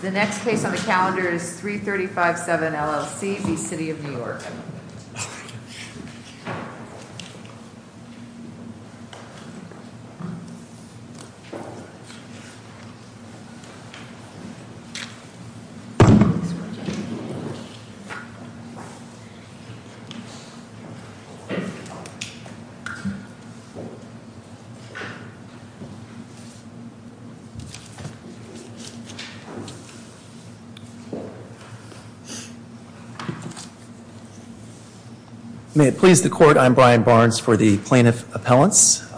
The next case on the calendar is 335-7 LLC v. City of New York. May it please the court, I'm Brian Barnes for the plaintiff appellants.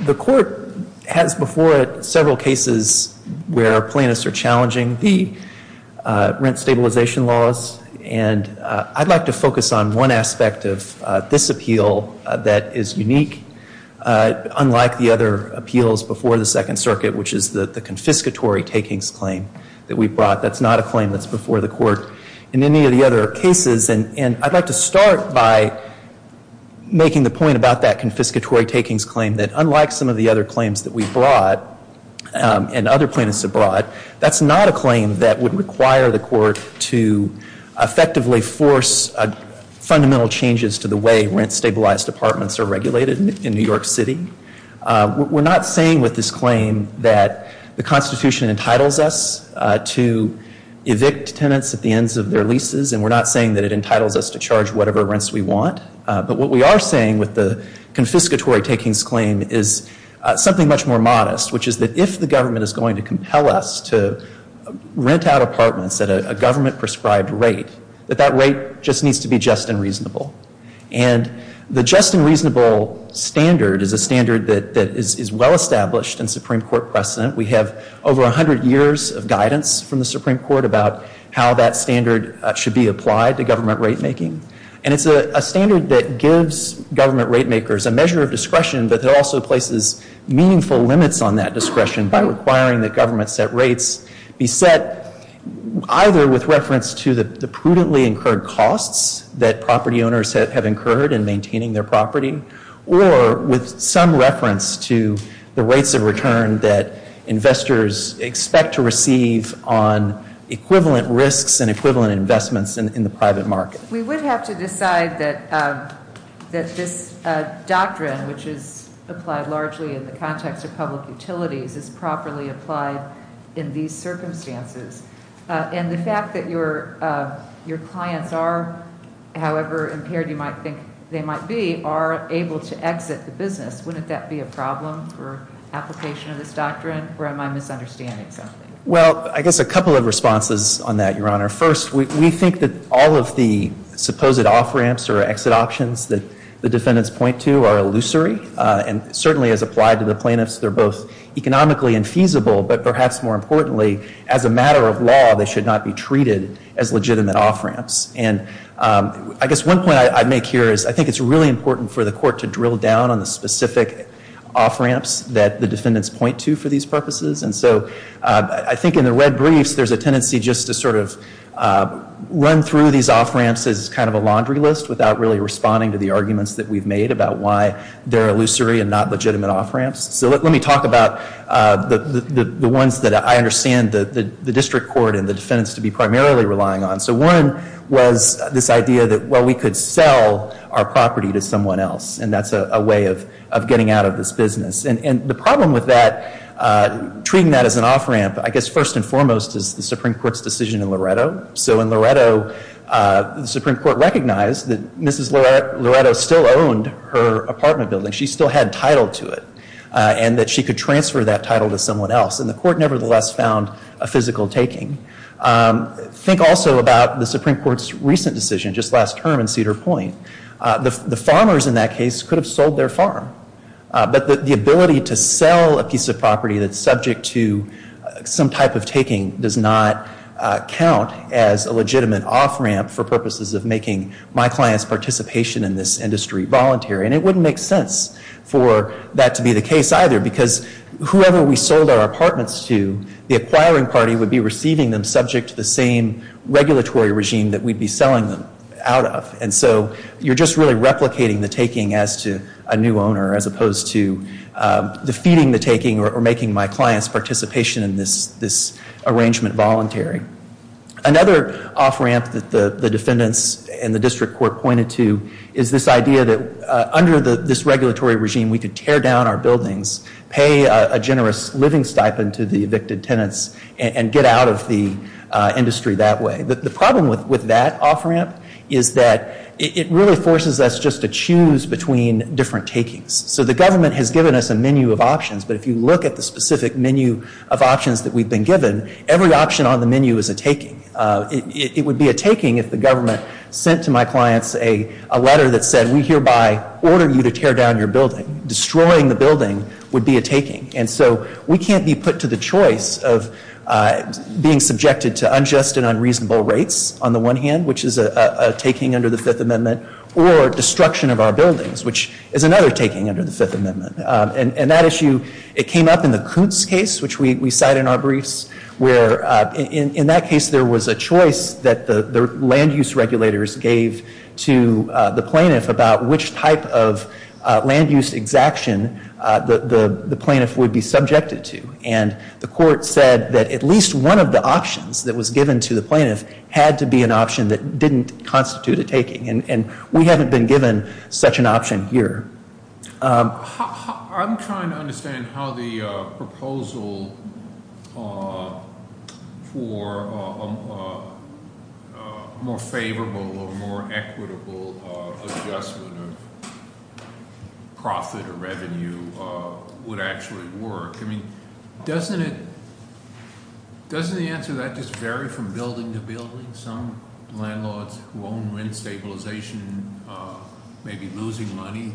The court has before it several cases where plaintiffs are challenging the rent stabilization laws. And I'd like to focus on one aspect of this appeal that is unique. Unlike the other appeals before the Second Circuit, which is the confiscatory takings claim that we brought. That's not a claim that's before the court in any of the other cases. And I'd like to start by making the point about that confiscatory takings claim. That unlike some of the other claims that we've brought and other plaintiffs have brought, that's not a claim that would require the court to effectively force fundamental changes to the way rent stabilized apartments are regulated in New York City. We're not saying with this claim that the Constitution entitles us to evict tenants at the ends of their leases. And we're not saying that it entitles us to charge whatever rents we want. But what we are saying with the confiscatory takings claim is something much more modest. Which is that if the government is going to compel us to rent out apartments at a government prescribed rate, that that rate just needs to be just and reasonable. And the just and reasonable standard is a standard that is well established in Supreme Court precedent. We have over 100 years of guidance from the Supreme Court about how that standard should be applied to government rate making. And it's a standard that gives government rate makers a measure of discretion, but it also places meaningful limits on that discretion by requiring that government set rates be set either with reference to the prudently incurred costs that property owners have incurred in maintaining their property, or with some reference to the rates of return that investors expect to receive on equivalent risks and equivalent investments in the private market. We would have to decide that this doctrine, which is applied largely in the context of public utilities, is properly applied in these circumstances. And the fact that your clients are, however impaired you might think they might be, are able to exit the business. Wouldn't that be a problem for application of this doctrine, or am I misunderstanding something? Well, I guess a couple of responses on that, Your Honor. First, we think that all of the supposed off-ramps or exit options that the defendants point to are illusory. And certainly as applied to the plaintiffs, they're both economically infeasible, but perhaps more importantly, as a matter of law, they should not be treated as legitimate off-ramps. And I guess one point I'd make here is I think it's really important for the court to drill down on the specific off-ramps that the defendants point to for these purposes. And so I think in the red briefs, there's a tendency just to sort of run through these off-ramps as kind of a laundry list without really responding to the arguments that we've made about why they're illusory and not legitimate off-ramps. So let me talk about the ones that I understand the district court and the defendants to be primarily relying on. So one was this idea that, well, we could sell our property to someone else, and that's a way of getting out of this business. And the problem with that, treating that as an off-ramp, I guess first and foremost, is the Supreme Court's decision in Loretto. So in Loretto, the Supreme Court recognized that Mrs. Loretto still owned her apartment building. She still had title to it and that she could transfer that title to someone else, and the court nevertheless found a physical taking. Think also about the Supreme Court's recent decision just last term in Cedar Point. The farmers in that case could have sold their farm, but the ability to sell a piece of property that's subject to some type of taking does not count as a legitimate off-ramp for purposes of making my client's participation in this industry voluntary. And it wouldn't make sense for that to be the case either, because whoever we sold our apartments to, the acquiring party would be receiving them subject to the same regulatory regime that we'd be selling them out of. And so you're just really replicating the taking as to a new owner as opposed to defeating the taking or making my client's participation in this arrangement voluntary. Another off-ramp that the defendants and the district court pointed to is this idea that under this regulatory regime, we could tear down our buildings, pay a generous living stipend to the evicted tenants, and get out of the industry that way. The problem with that off-ramp is that it really forces us just to choose between different takings. So the government has given us a menu of options, but if you look at the specific menu of options that we've been given, every option on the menu is a taking. It would be a taking if the government sent to my clients a letter that said, we hereby order you to tear down your building. Destroying the building would be a taking. And so we can't be put to the choice of being subjected to unjust and unreasonable rates on the one hand, which is a taking under the Fifth Amendment, or destruction of our buildings, which is another taking under the Fifth Amendment. And that issue, it came up in the Coots case, which we cite in our briefs, where in that case there was a choice that the land use regulators gave to the plaintiff about which type of land use exaction the plaintiff would be subjected to. And the court said that at least one of the options that was given to the plaintiff had to be an option that didn't constitute a taking. And we haven't been given such an option here. I'm trying to understand how the proposal for a more favorable or more equitable adjustment of profit or revenue would actually work. I mean, doesn't the answer to that just vary from building to building? Some landlords who own wind stabilization may be losing money.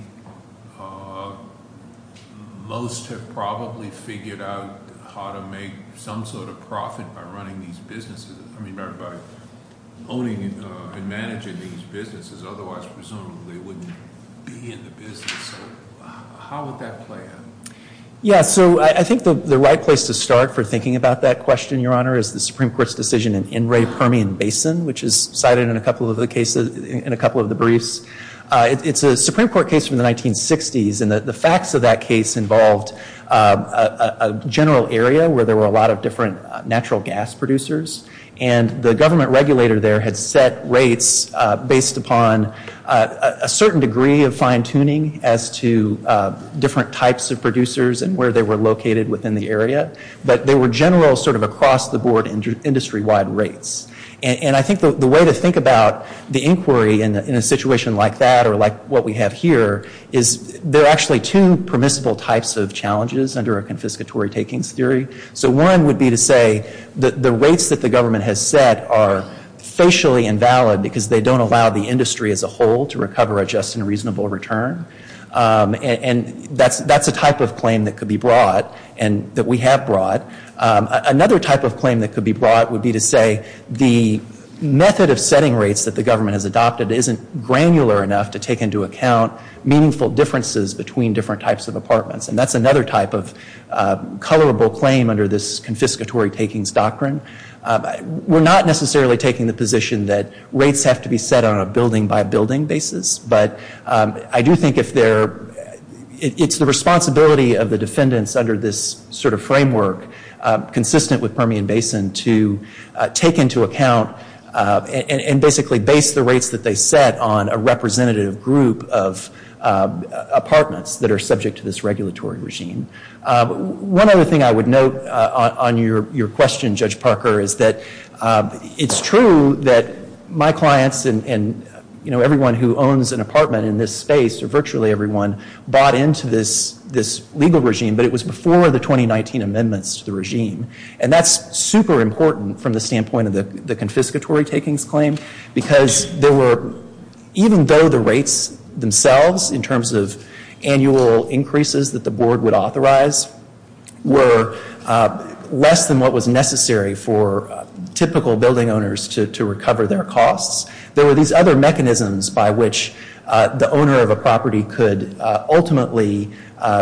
Most have probably figured out how to make some sort of profit by running these businesses. I mean, by owning and managing these businesses. Otherwise, presumably, they wouldn't be in the business. So how would that play out? Yeah, so I think the right place to start for thinking about that question, Your Honor, is the Supreme Court's decision in In re Permian Basin, which is cited in a couple of the briefs. It's a Supreme Court case from the 1960s. And the facts of that case involved a general area where there were a lot of different natural gas producers. And the government regulator there had set rates based upon a certain degree of fine-tuning as to different types of producers and where they were located within the area. But they were general sort of across-the-board industry-wide rates. And I think the way to think about the inquiry in a situation like that or like what we have here is there are actually two permissible types of challenges under a confiscatory takings theory. So one would be to say that the rates that the government has set are facially invalid because they don't allow the industry as a whole to recover a just and reasonable return. And that's a type of claim that could be brought and that we have brought. Another type of claim that could be brought would be to say the method of setting rates that the government has adopted isn't granular enough to take into account meaningful differences between different types of apartments. And that's another type of colorable claim under this confiscatory takings doctrine. We're not necessarily taking the position that rates have to be set on a building-by-building basis. But I do think it's the responsibility of the defendants under this sort of framework, consistent with Permian Basin, to take into account and basically base the rates that they set on a representative group of apartments that are subject to this regulatory regime. One other thing I would note on your question, Judge Parker, is that it's true that my clients and everyone who owns an apartment in this space, or virtually everyone, bought into this legal regime, but it was before the 2019 amendments to the regime. And that's super important from the standpoint of the confiscatory takings claim because even though the rates themselves, in terms of annual increases that the board would authorize, were less than what was necessary for typical building owners to recover their costs, there were these other mechanisms by which the owner of a property could ultimately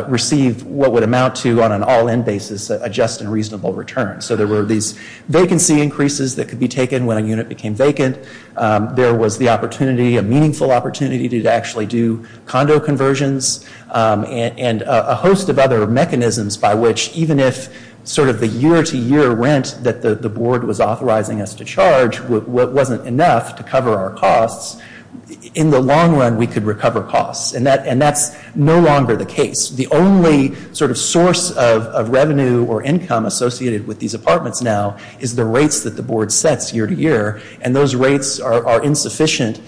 receive what would amount to, on an all-in basis, a just and reasonable return. So there were these vacancy increases that could be taken when a unit became vacant. There was the opportunity, a meaningful opportunity, to actually do condo conversions and a host of other mechanisms by which, even if the year-to-year rent that the board was authorizing us to charge wasn't enough to cover our costs, in the long run we could recover costs. And that's no longer the case. The only sort of source of revenue or income associated with these apartments now is the rates that the board sets year-to-year, and those rates are insufficient.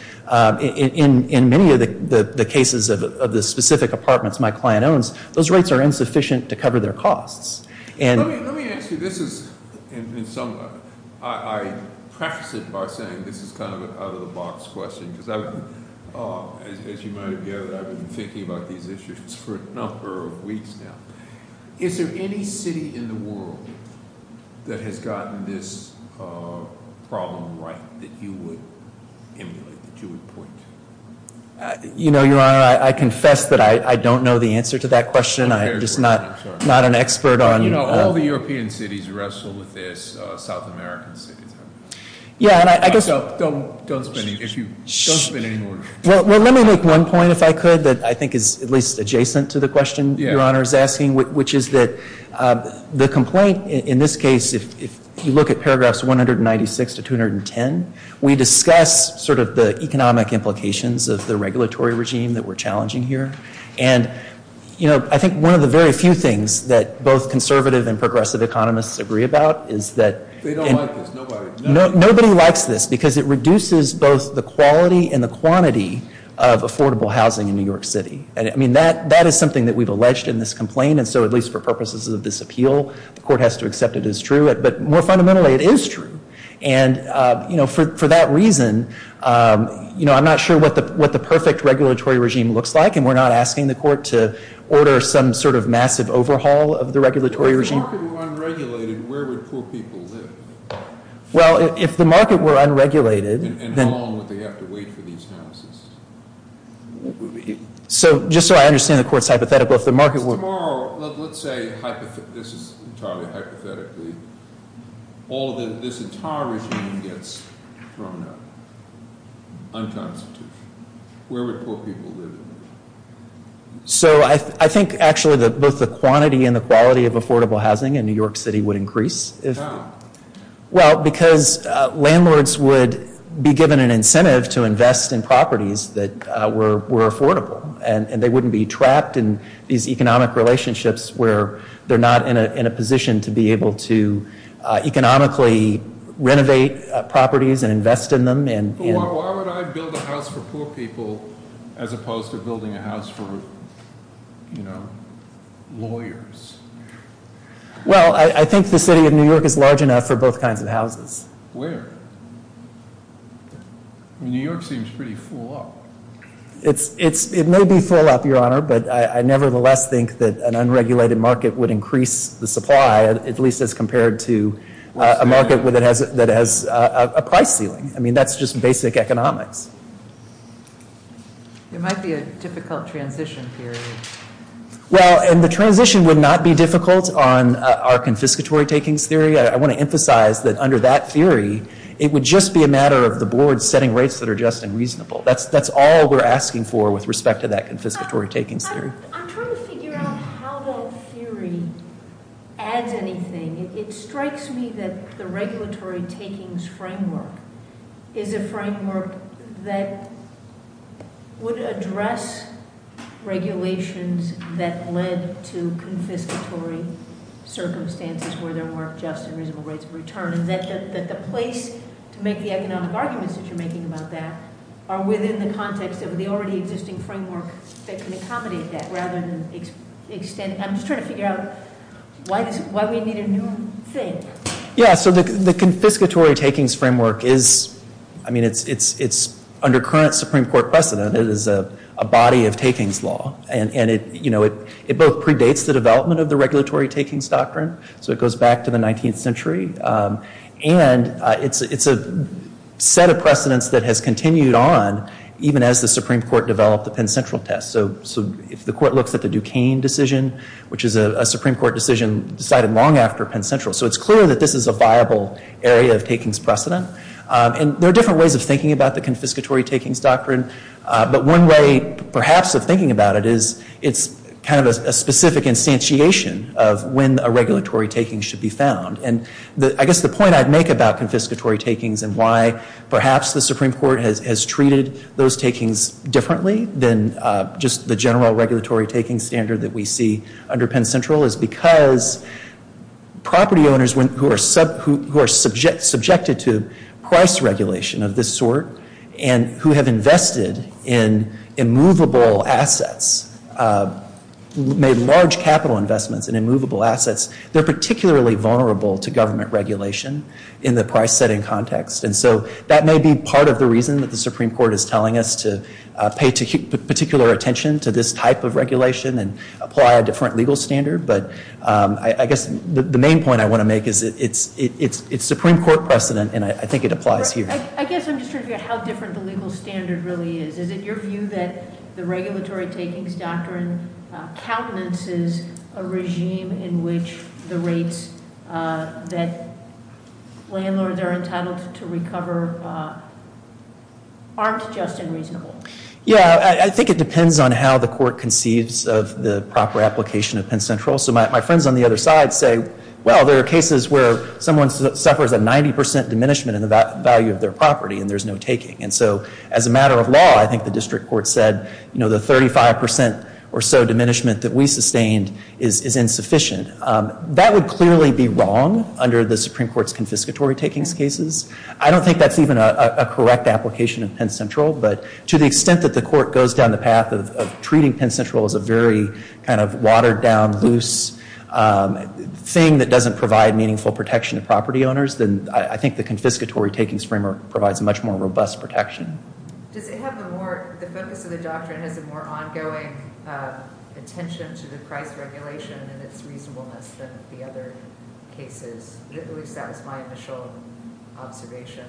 In many of the cases of the specific apartments my client owns, those rates are insufficient to cover their costs. Let me ask you, this is, in some, I preface it by saying this is kind of an out-of-the-box question because, as you might have gathered, I've been thinking about these issues for a number of weeks now. Is there any city in the world that has gotten this problem right that you would emulate, that you would point to? You know, Your Honor, I confess that I don't know the answer to that question. I'm just not an expert on- You know, all the European cities wrestle with this. South American cities have it. Yeah, and I guess- Don't spin any more. Well, let me make one point, if I could, that I think is at least adjacent to the question Your Honor is asking, which is that the complaint in this case, if you look at paragraphs 196 to 210, we discuss sort of the economic implications of the regulatory regime that we're challenging here. And, you know, I think one of the very few things that both conservative and progressive economists agree about is that- They don't like this. Nobody. Nobody likes this because it reduces both the quality and the quantity of affordable housing in New York City. And, I mean, that is something that we've alleged in this complaint. And so, at least for purposes of this appeal, the court has to accept it as true. But more fundamentally, it is true. And, you know, for that reason, you know, I'm not sure what the perfect regulatory regime looks like. And we're not asking the court to order some sort of massive overhaul of the regulatory regime. If the market were unregulated, where would poor people live? Well, if the market were unregulated- And how long would they have to wait for these houses? So, just so I understand the court's hypothetical, if the market were- Tomorrow, let's say this is entirely hypothetically, all of this entire regime gets thrown out. Unconstitutional. Where would poor people live? So, I think, actually, both the quantity and the quality of affordable housing in New York City would increase. How? Well, because landlords would be given an incentive to invest in properties that were affordable. And they wouldn't be trapped in these economic relationships where they're not in a position to be able to economically renovate properties and invest in them. Why would I build a house for poor people as opposed to building a house for, you know, lawyers? Well, I think the city of New York is large enough for both kinds of houses. Where? New York seems pretty full up. It may be full up, Your Honor, but I nevertheless think that an unregulated market would increase the supply, at least as compared to a market that has a price ceiling. I mean, that's just basic economics. It might be a difficult transition period. Well, and the transition would not be difficult on our confiscatory takings theory. I want to emphasize that under that theory, it would just be a matter of the board setting rates that are just and reasonable. That's all we're asking for with respect to that confiscatory takings theory. I'm trying to figure out how that theory adds anything. It strikes me that the regulatory takings framework is a framework that would address regulations that led to confiscatory circumstances where there weren't just and reasonable rates of return. And that the place to make the economic arguments that you're making about that are within the context of the already existing framework that can accommodate that rather than extend it. I'm just trying to figure out why we need a new thing. Yeah, so the confiscatory takings framework is, I mean, it's under current Supreme Court precedent. It is a body of takings law. And it both predates the development of the regulatory takings doctrine, so it goes back to the 19th century. And it's a set of precedents that has continued on even as the Supreme Court developed the Penn Central test. So if the court looks at the Duquesne decision, which is a Supreme Court decision decided long after Penn Central. So it's clear that this is a viable area of takings precedent. And there are different ways of thinking about the confiscatory takings doctrine. But one way, perhaps, of thinking about it is it's kind of a specific instantiation of when a regulatory taking should be found. And I guess the point I'd make about confiscatory takings and why perhaps the Supreme Court has treated those takings differently than just the general regulatory taking standard that we see under Penn Central is because property owners who are subjected to price regulation of this sort and who have invested in immovable assets, made large capital investments in immovable assets, they're particularly vulnerable to government regulation in the price setting context. And so that may be part of the reason that the Supreme Court is telling us to pay particular attention to this type of regulation and apply a different legal standard. But I guess the main point I want to make is it's Supreme Court precedent, and I think it applies here. I guess I'm just trying to figure out how different the legal standard really is. Is it your view that the regulatory takings doctrine countenances a regime in which the rates that landlords are entitled to recover aren't just unreasonable? Yeah, I think it depends on how the court conceives of the proper application of Penn Central. So my friends on the other side say, well, there are cases where someone suffers a 90% diminishment in the value of their property and there's no taking. And so as a matter of law, I think the district court said, you know, the 35% or so diminishment that we sustained is insufficient. That would clearly be wrong under the Supreme Court's confiscatory takings cases. I don't think that's even a correct application of Penn Central. But to the extent that the court goes down the path of treating Penn Central as a very kind of watered down, loose thing that doesn't provide meaningful protection to property owners, then I think the confiscatory takings framework provides a much more robust protection. Does it have the more, the focus of the doctrine has a more ongoing attention to the price regulation and its reasonableness than the other cases? At least that was my initial observation.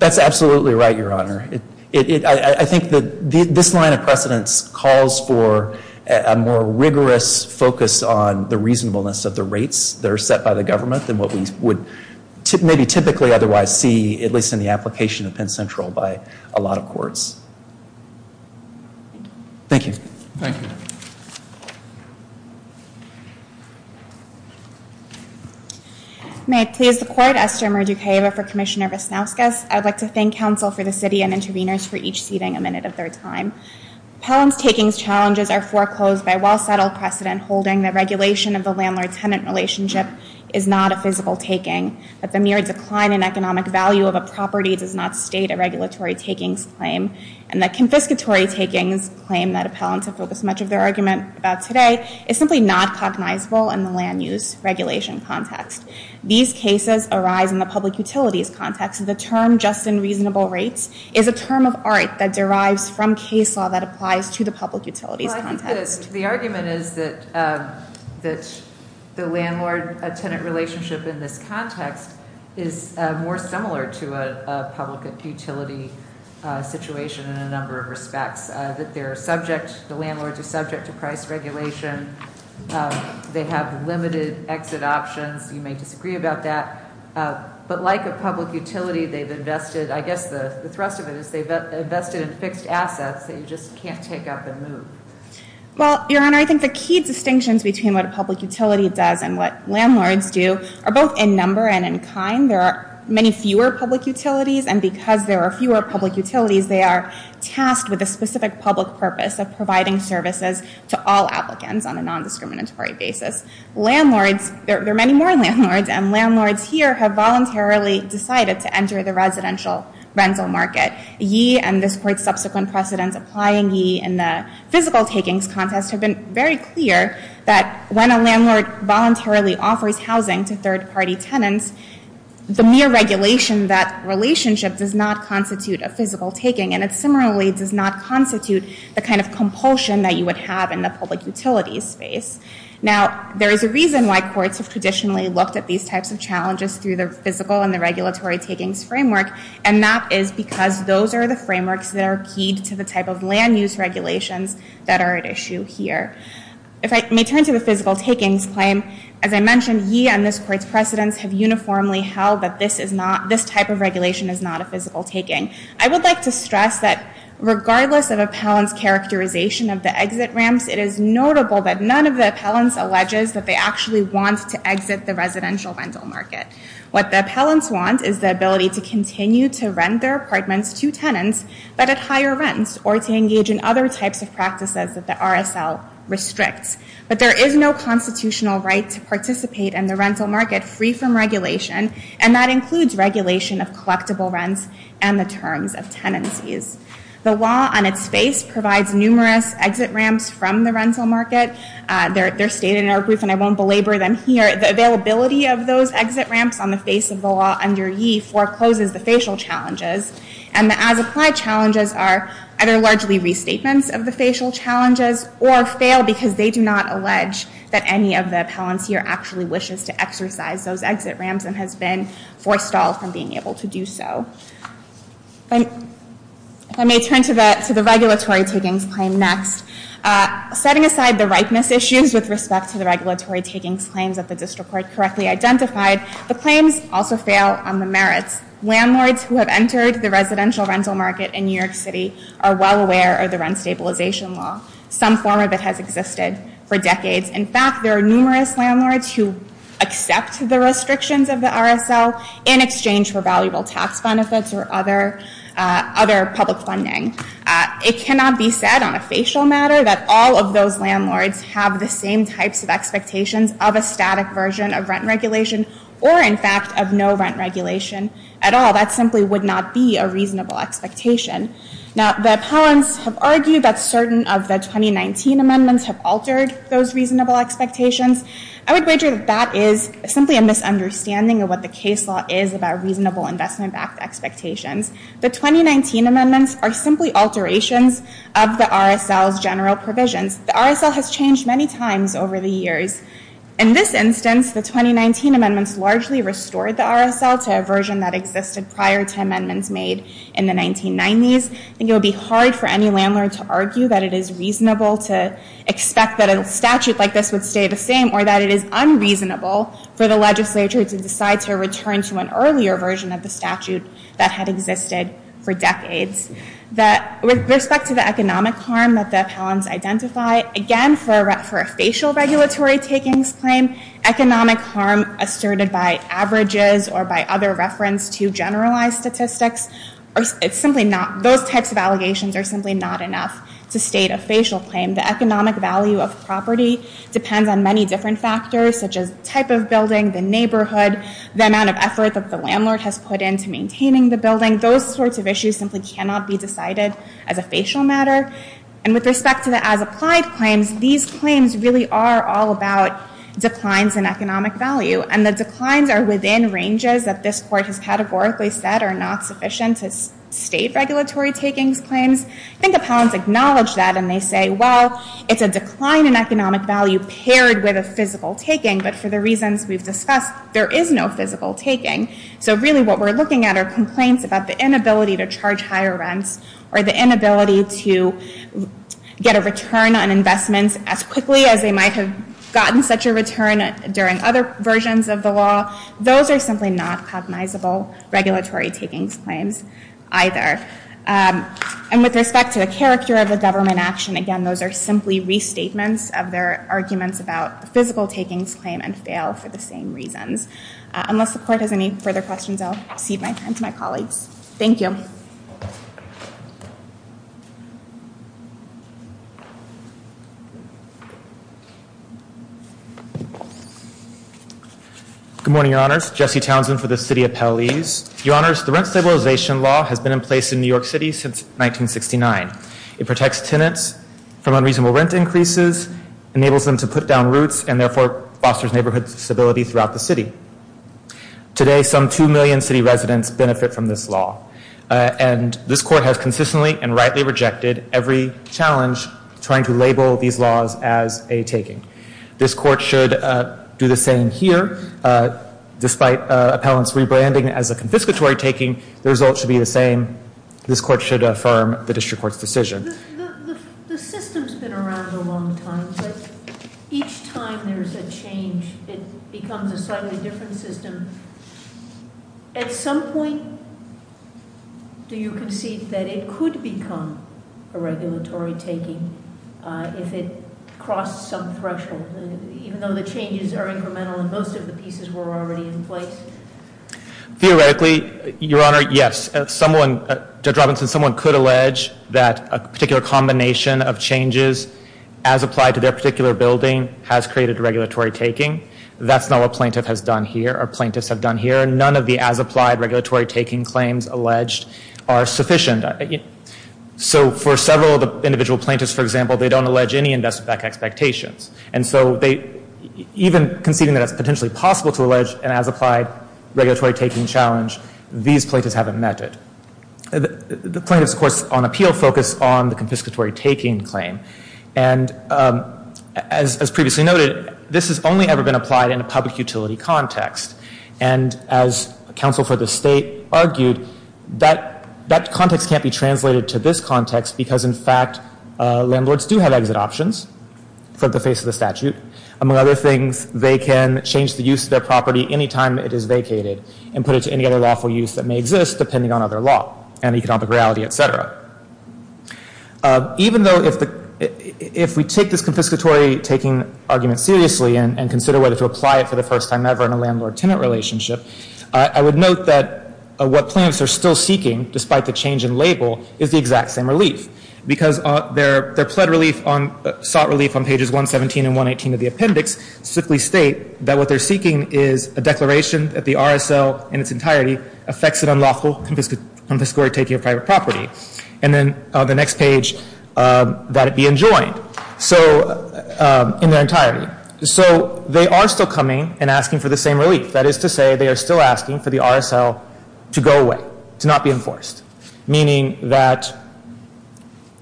That's absolutely right, Your Honor. I think that this line of precedence calls for a more rigorous focus on the reasonableness of the rates that are set by the government than what we would maybe typically otherwise see, at least in the application of Penn Central by a lot of courts. Thank you. Thank you. May it please the court, Esther Murduqueva for Commissioner Visnauskas. I'd like to thank counsel for the city and interveners for each seating a minute of their time. Appellant's takings challenges are foreclosed by well-settled precedent holding that regulation of the landlord-tenant relationship is not a physical taking, that the mere decline in economic value of a property does not state a regulatory takings claim, and that confiscatory takings claim that appellants have focused much of their argument about today is simply not cognizable in the land use regulation context. These cases arise in the public utilities context. The term just and reasonable rates is a term of art that derives from case law that applies to the public utilities context. The argument is that the landlord-tenant relationship in this context is more similar to a public utility situation in a number of respects, that the landlords are subject to price regulation. They have limited exit options. You may disagree about that. But like a public utility, they've invested, I guess the thrust of it is they've invested in fixed assets that you just can't take up and move. Well, your honor, I think the key distinctions between what a public utility does and what landlords do are both in number and in kind. There are many fewer public utilities, and because there are fewer public utilities, they are tasked with a specific public purpose of providing services to all applicants on a non-discriminatory basis. Landlords, there are many more landlords, and landlords here have voluntarily decided to enter the residential rental market. Yee, and this court's subsequent precedents applying yee in the physical takings contest, have been very clear that when a landlord voluntarily offers housing to third-party tenants, the mere regulation of that relationship does not constitute a physical taking, and it similarly does not constitute the kind of compulsion that you would have in the public utilities space. Now, there is a reason why courts have traditionally looked at these types of challenges through the physical and the regulatory takings framework, and that is because those are the frameworks that are keyed to the type of land-use regulations that are at issue here. If I may turn to the physical takings claim, as I mentioned, yee and this court's precedents have uniformly held that this type of regulation is not a physical taking. I would like to stress that regardless of appellant's characterization of the exit ramps, it is notable that none of the appellants alleges that they actually want to exit the residential rental market. What the appellants want is the ability to continue to rent their apartments to tenants, but at higher rents, or to engage in other types of practices that the RSL restricts. But there is no constitutional right to participate in the rental market free from regulation, and that includes regulation of collectible rents and the terms of tenancies. The law on its face provides numerous exit ramps from the rental market. They're stated in our brief, and I won't belabor them here. The availability of those exit ramps on the face of the law under yee forecloses the facial challenges, and the as-applied challenges are either largely restatements of the facial challenges, or fail because they do not allege that any of the appellants here actually wishes to exercise those exit ramps and has been forced off from being able to do so. If I may turn to the regulatory takings claim next. Setting aside the ripeness issues with respect to the regulatory takings claims that the district court correctly identified, the claims also fail on the merits. Landlords who have entered the residential rental market in New York City are well aware of the rent stabilization law. Some form of it has existed for decades. In fact, there are numerous landlords who accept the restrictions of the RSL in exchange for valuable tax benefits or other public funding. It cannot be said on a facial matter that all of those landlords have the same types of expectations of a static version of rent regulation or, in fact, of no rent regulation at all. That simply would not be a reasonable expectation. Now, the appellants have argued that certain of the 2019 amendments have altered those reasonable expectations. I would wager that that is simply a misunderstanding of what the case law is about reasonable investment-backed expectations. The 2019 amendments are simply alterations of the RSL's general provisions. The RSL has changed many times over the years. In this instance, the 2019 amendments largely restored the RSL to a version that existed prior to amendments made in the 1990s. I think it would be hard for any landlord to argue that it is reasonable to expect that a statute like this would stay the same or that it is unreasonable for the legislature to decide to return to an earlier version of the statute that had existed for decades. With respect to the economic harm that the appellants identify, again, for a facial regulatory takings claim, economic harm asserted by averages or by other reference to generalized statistics, those types of allegations are simply not enough to state a facial claim. The economic value of property depends on many different factors, such as type of building, the neighborhood, the amount of effort that the landlord has put into maintaining the building. Again, those sorts of issues simply cannot be decided as a facial matter. And with respect to the as-applied claims, these claims really are all about declines in economic value. And the declines are within ranges that this Court has categorically said are not sufficient to state regulatory takings claims. I think appellants acknowledge that and they say, well, it's a decline in economic value paired with a physical taking. But for the reasons we've discussed, there is no physical taking. So really what we're looking at are complaints about the inability to charge higher rents or the inability to get a return on investments as quickly as they might have gotten such a return during other versions of the law. Those are simply not cognizable regulatory takings claims either. And with respect to the character of the government action, again, those are simply restatements of their arguments about physical takings claim and fail for the same reasons. Unless the Court has any further questions, I'll cede my time to my colleagues. Thank you. Good morning, Your Honors. Jesse Townsend for the City Appellees. Your Honors, the Rent Stabilization Law has been in place in New York City since 1969. It protects tenants from unreasonable rent increases, enables them to put down roots, and therefore fosters neighborhood stability throughout the city. Today, some two million city residents benefit from this law. And this Court has consistently and rightly rejected every challenge trying to label these laws as a taking. This Court should do the same here. Despite appellants rebranding as a confiscatory taking, the results should be the same. This Court should affirm the district court's decision. The system's been around a long time, but each time there's a change, it becomes a slightly different system. At some point, do you concede that it could become a regulatory taking if it crossed some threshold, even though the changes are incremental and most of the pieces were already in place? Theoretically, Your Honor, yes. Someone, Judge Robinson, someone could allege that a particular combination of changes as applied to their particular building has created regulatory taking. That's not what plaintiff has done here or plaintiffs have done here. None of the as applied regulatory taking claims alleged are sufficient. So for several of the individual plaintiffs, for example, they don't allege any investment back expectations. And so even conceding that it's potentially possible to allege an as applied regulatory taking challenge, these plaintiffs haven't met it. The plaintiffs, of course, on appeal focus on the confiscatory taking claim. And as previously noted, this has only ever been applied in a public utility context. And as counsel for the State argued, that context can't be translated to this context because, in fact, landlords do have exit options for the face of the statute. Among other things, they can change the use of their property any time it is vacated and put it to any other lawful use that may exist depending on other law and economic reality, et cetera. Even though if we take this confiscatory taking argument seriously and consider whether to apply it for the first time ever in a landlord-tenant relationship, I would note that what plaintiffs are still seeking, despite the change in label, is the exact same relief. Because their pled relief on sought relief on pages 117 and 118 of the appendix simply state that what they're seeking is a declaration that the RSL in its entirety affects an unlawful confiscatory taking of private property. And then the next page, that it be enjoined. So in their entirety. So they are still coming and asking for the same relief. That is to say, they are still asking for the RSL to go away, to not be enforced. Meaning that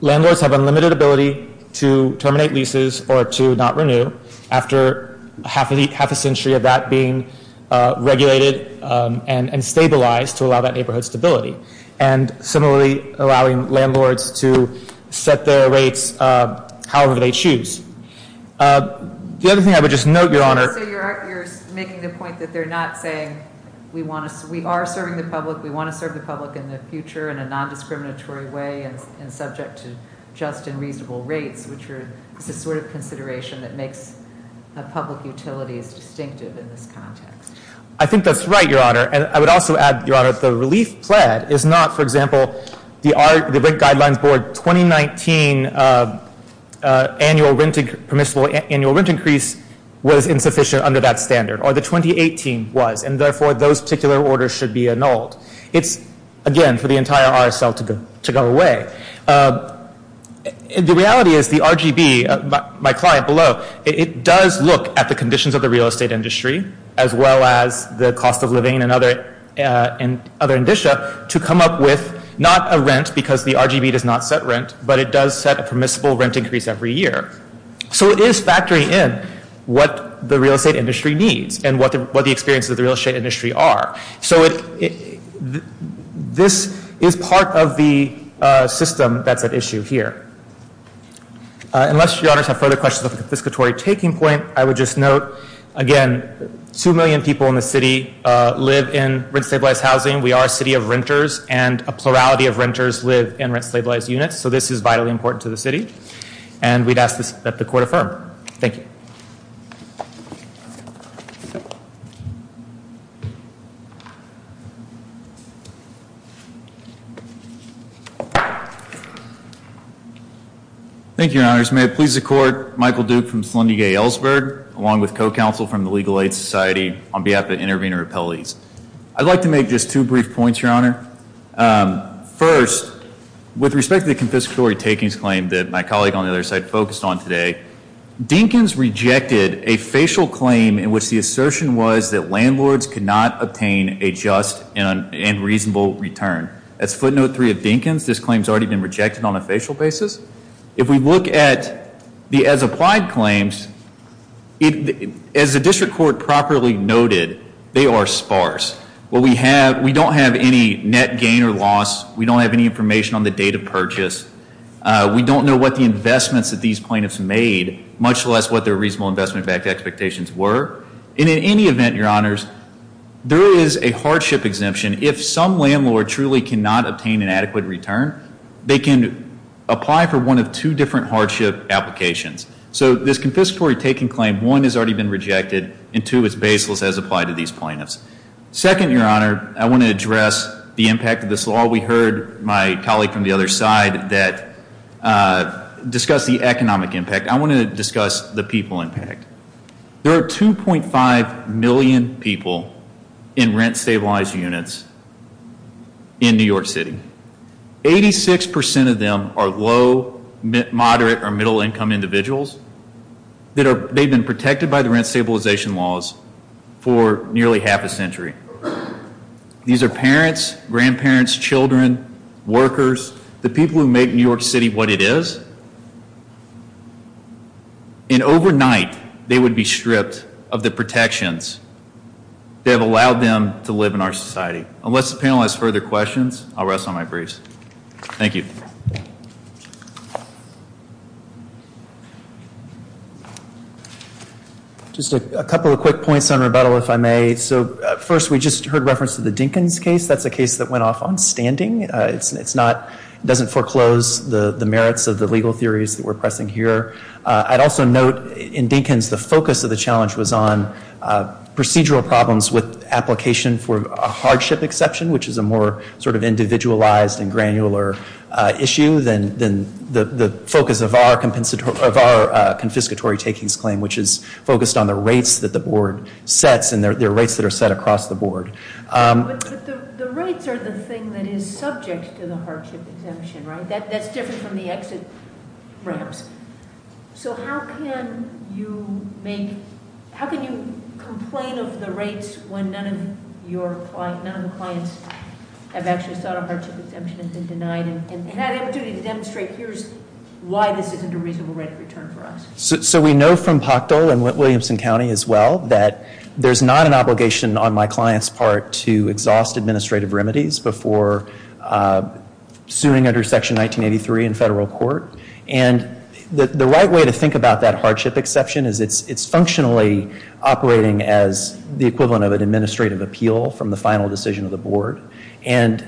landlords have unlimited ability to terminate leases or to not renew after half a century of that being regulated and stabilized to allow that neighborhood stability. And similarly, allowing landlords to set their rates however they choose. The other thing I would just note, Your Honor. So you're making the point that they're not saying we are serving the public, we want to serve the public in the future in a non-discriminatory way and subject to just and reasonable rates, which is the sort of consideration that makes public utilities distinctive in this context. I think that's right, Your Honor. And I would also add, Your Honor, the relief plan is not, for example, the Rent Guidelines Board 2019 annual rent increase was insufficient under that standard. Or the 2018 was. And therefore, those particular orders should be annulled. It's, again, for the entire RSL to go away. The reality is the RGB, my client below, it does look at the conditions of the real estate industry as well as the cost of living and other indicia to come up with not a rent because the RGB does not set rent, but it does set a permissible rent increase every year. So it is factoring in what the real estate industry needs and what the experiences of the real estate industry are. So this is part of the system that's at issue here. Unless Your Honors have further questions of the confiscatory taking point, I would just note, again, 2 million people in the city live in rent-stabilized housing. We are a city of renters and a plurality of renters live in rent-stabilized units. So this is vitally important to the city. And we'd ask that the court affirm. Thank you. Thank you, Your Honors. May it please the court, Michael Duke from Slendigay Ellsberg, along with co-counsel from the Legal Aid Society on behalf of Intervenor Appellees. I'd like to make just two brief points, Your Honor. First, with respect to the confiscatory takings claim that my colleague on the other side focused on today, Dinkins rejected a facial claim in which the assertion was that landlords could not obtain a just and reasonable return. That's footnote 3 of Dinkins. This claim has already been rejected on a facial basis. If we look at the as-applied claims, as the district court properly noted, they are sparse. We don't have any net gain or loss. We don't have any information on the date of purchase. We don't know what the investments that these plaintiffs made, much less what their reasonable investment-backed expectations were. And in any event, Your Honors, there is a hardship exemption. If some landlord truly cannot obtain an adequate return, they can apply for one of two different hardship applications. So this confiscatory taking claim, one, has already been rejected, and two, it's baseless as applied to these plaintiffs. Second, Your Honor, I want to address the impact of this law. We heard my colleague from the other side discuss the economic impact. I want to discuss the people impact. There are 2.5 million people in rent-stabilized units in New York City. 86% of them are low, moderate, or middle-income individuals. They've been protected by the rent-stabilization laws for nearly half a century. These are parents, grandparents, children, workers, the people who make New York City what it is. And overnight, they would be stripped of the protections that have allowed them to live in our society. Unless the panel has further questions, I'll rest on my brace. Thank you. Just a couple of quick points on rebuttal, if I may. So first, we just heard reference to the Dinkins case. That's a case that went off on standing. It doesn't foreclose the merits of the legal theories that we're pressing here. I'd also note, in Dinkins, the focus of the challenge was on procedural problems with application for a hardship exception, which is a more sort of individualized and granular issue than the focus of our confiscatory takings claim, which is focused on the rates that the board sets and their rates that are set across the board. But the rates are the thing that is subject to the hardship exemption, right? That's different from the exit ramps. So how can you make, how can you complain of the rates when none of your clients, none of the clients have actually sought a hardship exemption and been denied and had an opportunity to demonstrate, here's why this isn't a reasonable rate of return for us? So we know from Pachtel and Williamson County as well that there's not an obligation on my client's part to exhaust administrative remedies before suing under Section 1983 in federal court. And the right way to think about that hardship exception is it's functionally operating as the equivalent of an administrative appeal And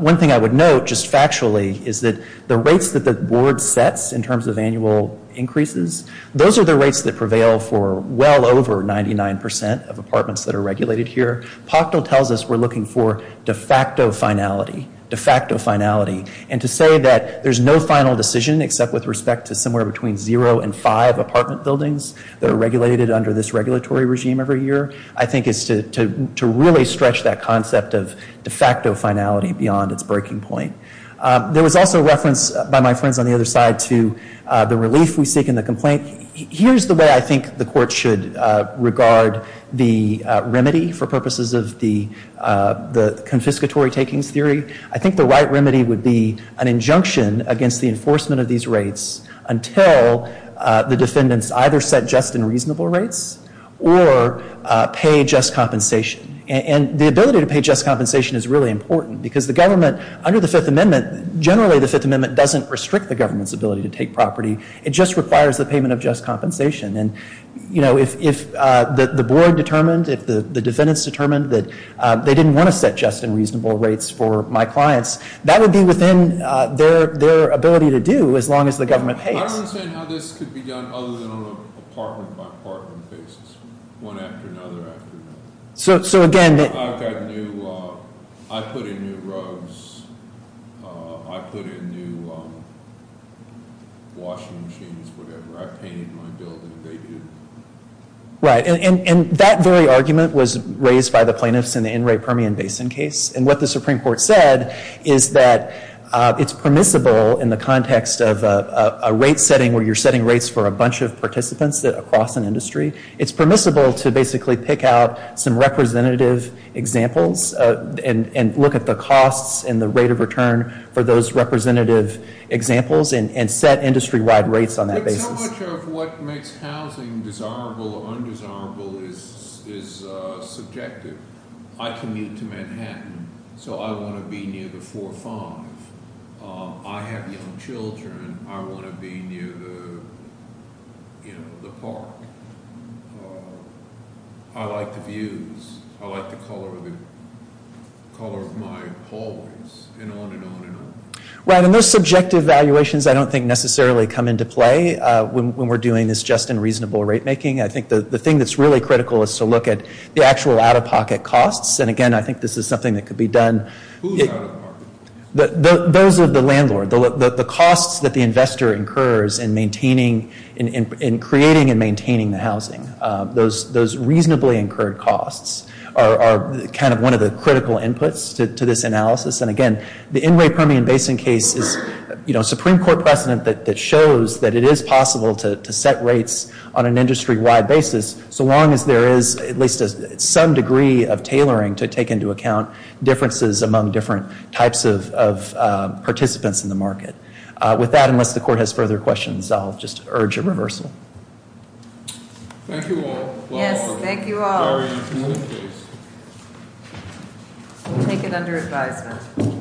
one thing I would note, just factually, is that the rates that the board sets in terms of annual increases, those are the rates that prevail for well over 99% of apartments that are regulated here. Pachtel tells us we're looking for de facto finality, de facto finality. And to say that there's no final decision except with respect to somewhere between zero and five apartment buildings that are regulated under this regulatory regime every year, I think is to really stretch that concept of de facto finality beyond its breaking point. There was also reference by my friends on the other side to the relief we seek in the complaint. Here's the way I think the court should regard the remedy for purposes of the confiscatory takings theory. I think the right remedy would be an injunction against the enforcement of these rates until the defendants either set just and reasonable rates or pay just compensation. And the ability to pay just compensation is really important because the government, under the Fifth Amendment, generally the Fifth Amendment doesn't restrict the government's ability to take property. It just requires the payment of just compensation. And if the board determined, if the defendants determined that they didn't want to set just and reasonable rates for my clients, that would be within their ability to do as long as the government pays. I don't understand how this could be done other than on an apartment-by-apartment basis, one after another after another. So again... I've got new, I put in new rugs, I put in new washing machines, whatever. I painted my building and they do. Right. And that very argument was raised by the plaintiffs in the N. Ray Permian Basin case. And what the Supreme Court said is that it's permissible in the context of a rate setting where you're setting rates for a bunch of participants across an industry, it's permissible to basically pick out some representative examples and look at the costs and the rate of return for those representative examples and set industry-wide rates on that basis. But so much of what makes housing desirable or undesirable is subjective. I commute to Manhattan, so I want to be near the 4-5. I have young children, I want to be near the park. I like the views, I like the color of my hallways, and on and on and on. Right. And those subjective valuations I don't think necessarily come into play when we're doing this just and reasonable rate making. I think the thing that's really critical is to look at the actual out-of-pocket costs. And again, I think this is something that could be done... Who's out-of-pocket? Those of the landlord. The costs that the investor incurs in creating and maintaining the housing. Those reasonably incurred costs are kind of one of the critical inputs to this analysis. And again, the Inway Permian Basin case is a Supreme Court precedent that shows that it is possible to set rates on an industry-wide basis so long as there is at least some degree of tailoring to take into account differences among different types of participants in the market. With that, unless the court has further questions, I'll just urge a reversal. Thank you all. Yes, thank you all. We'll take it under advisement.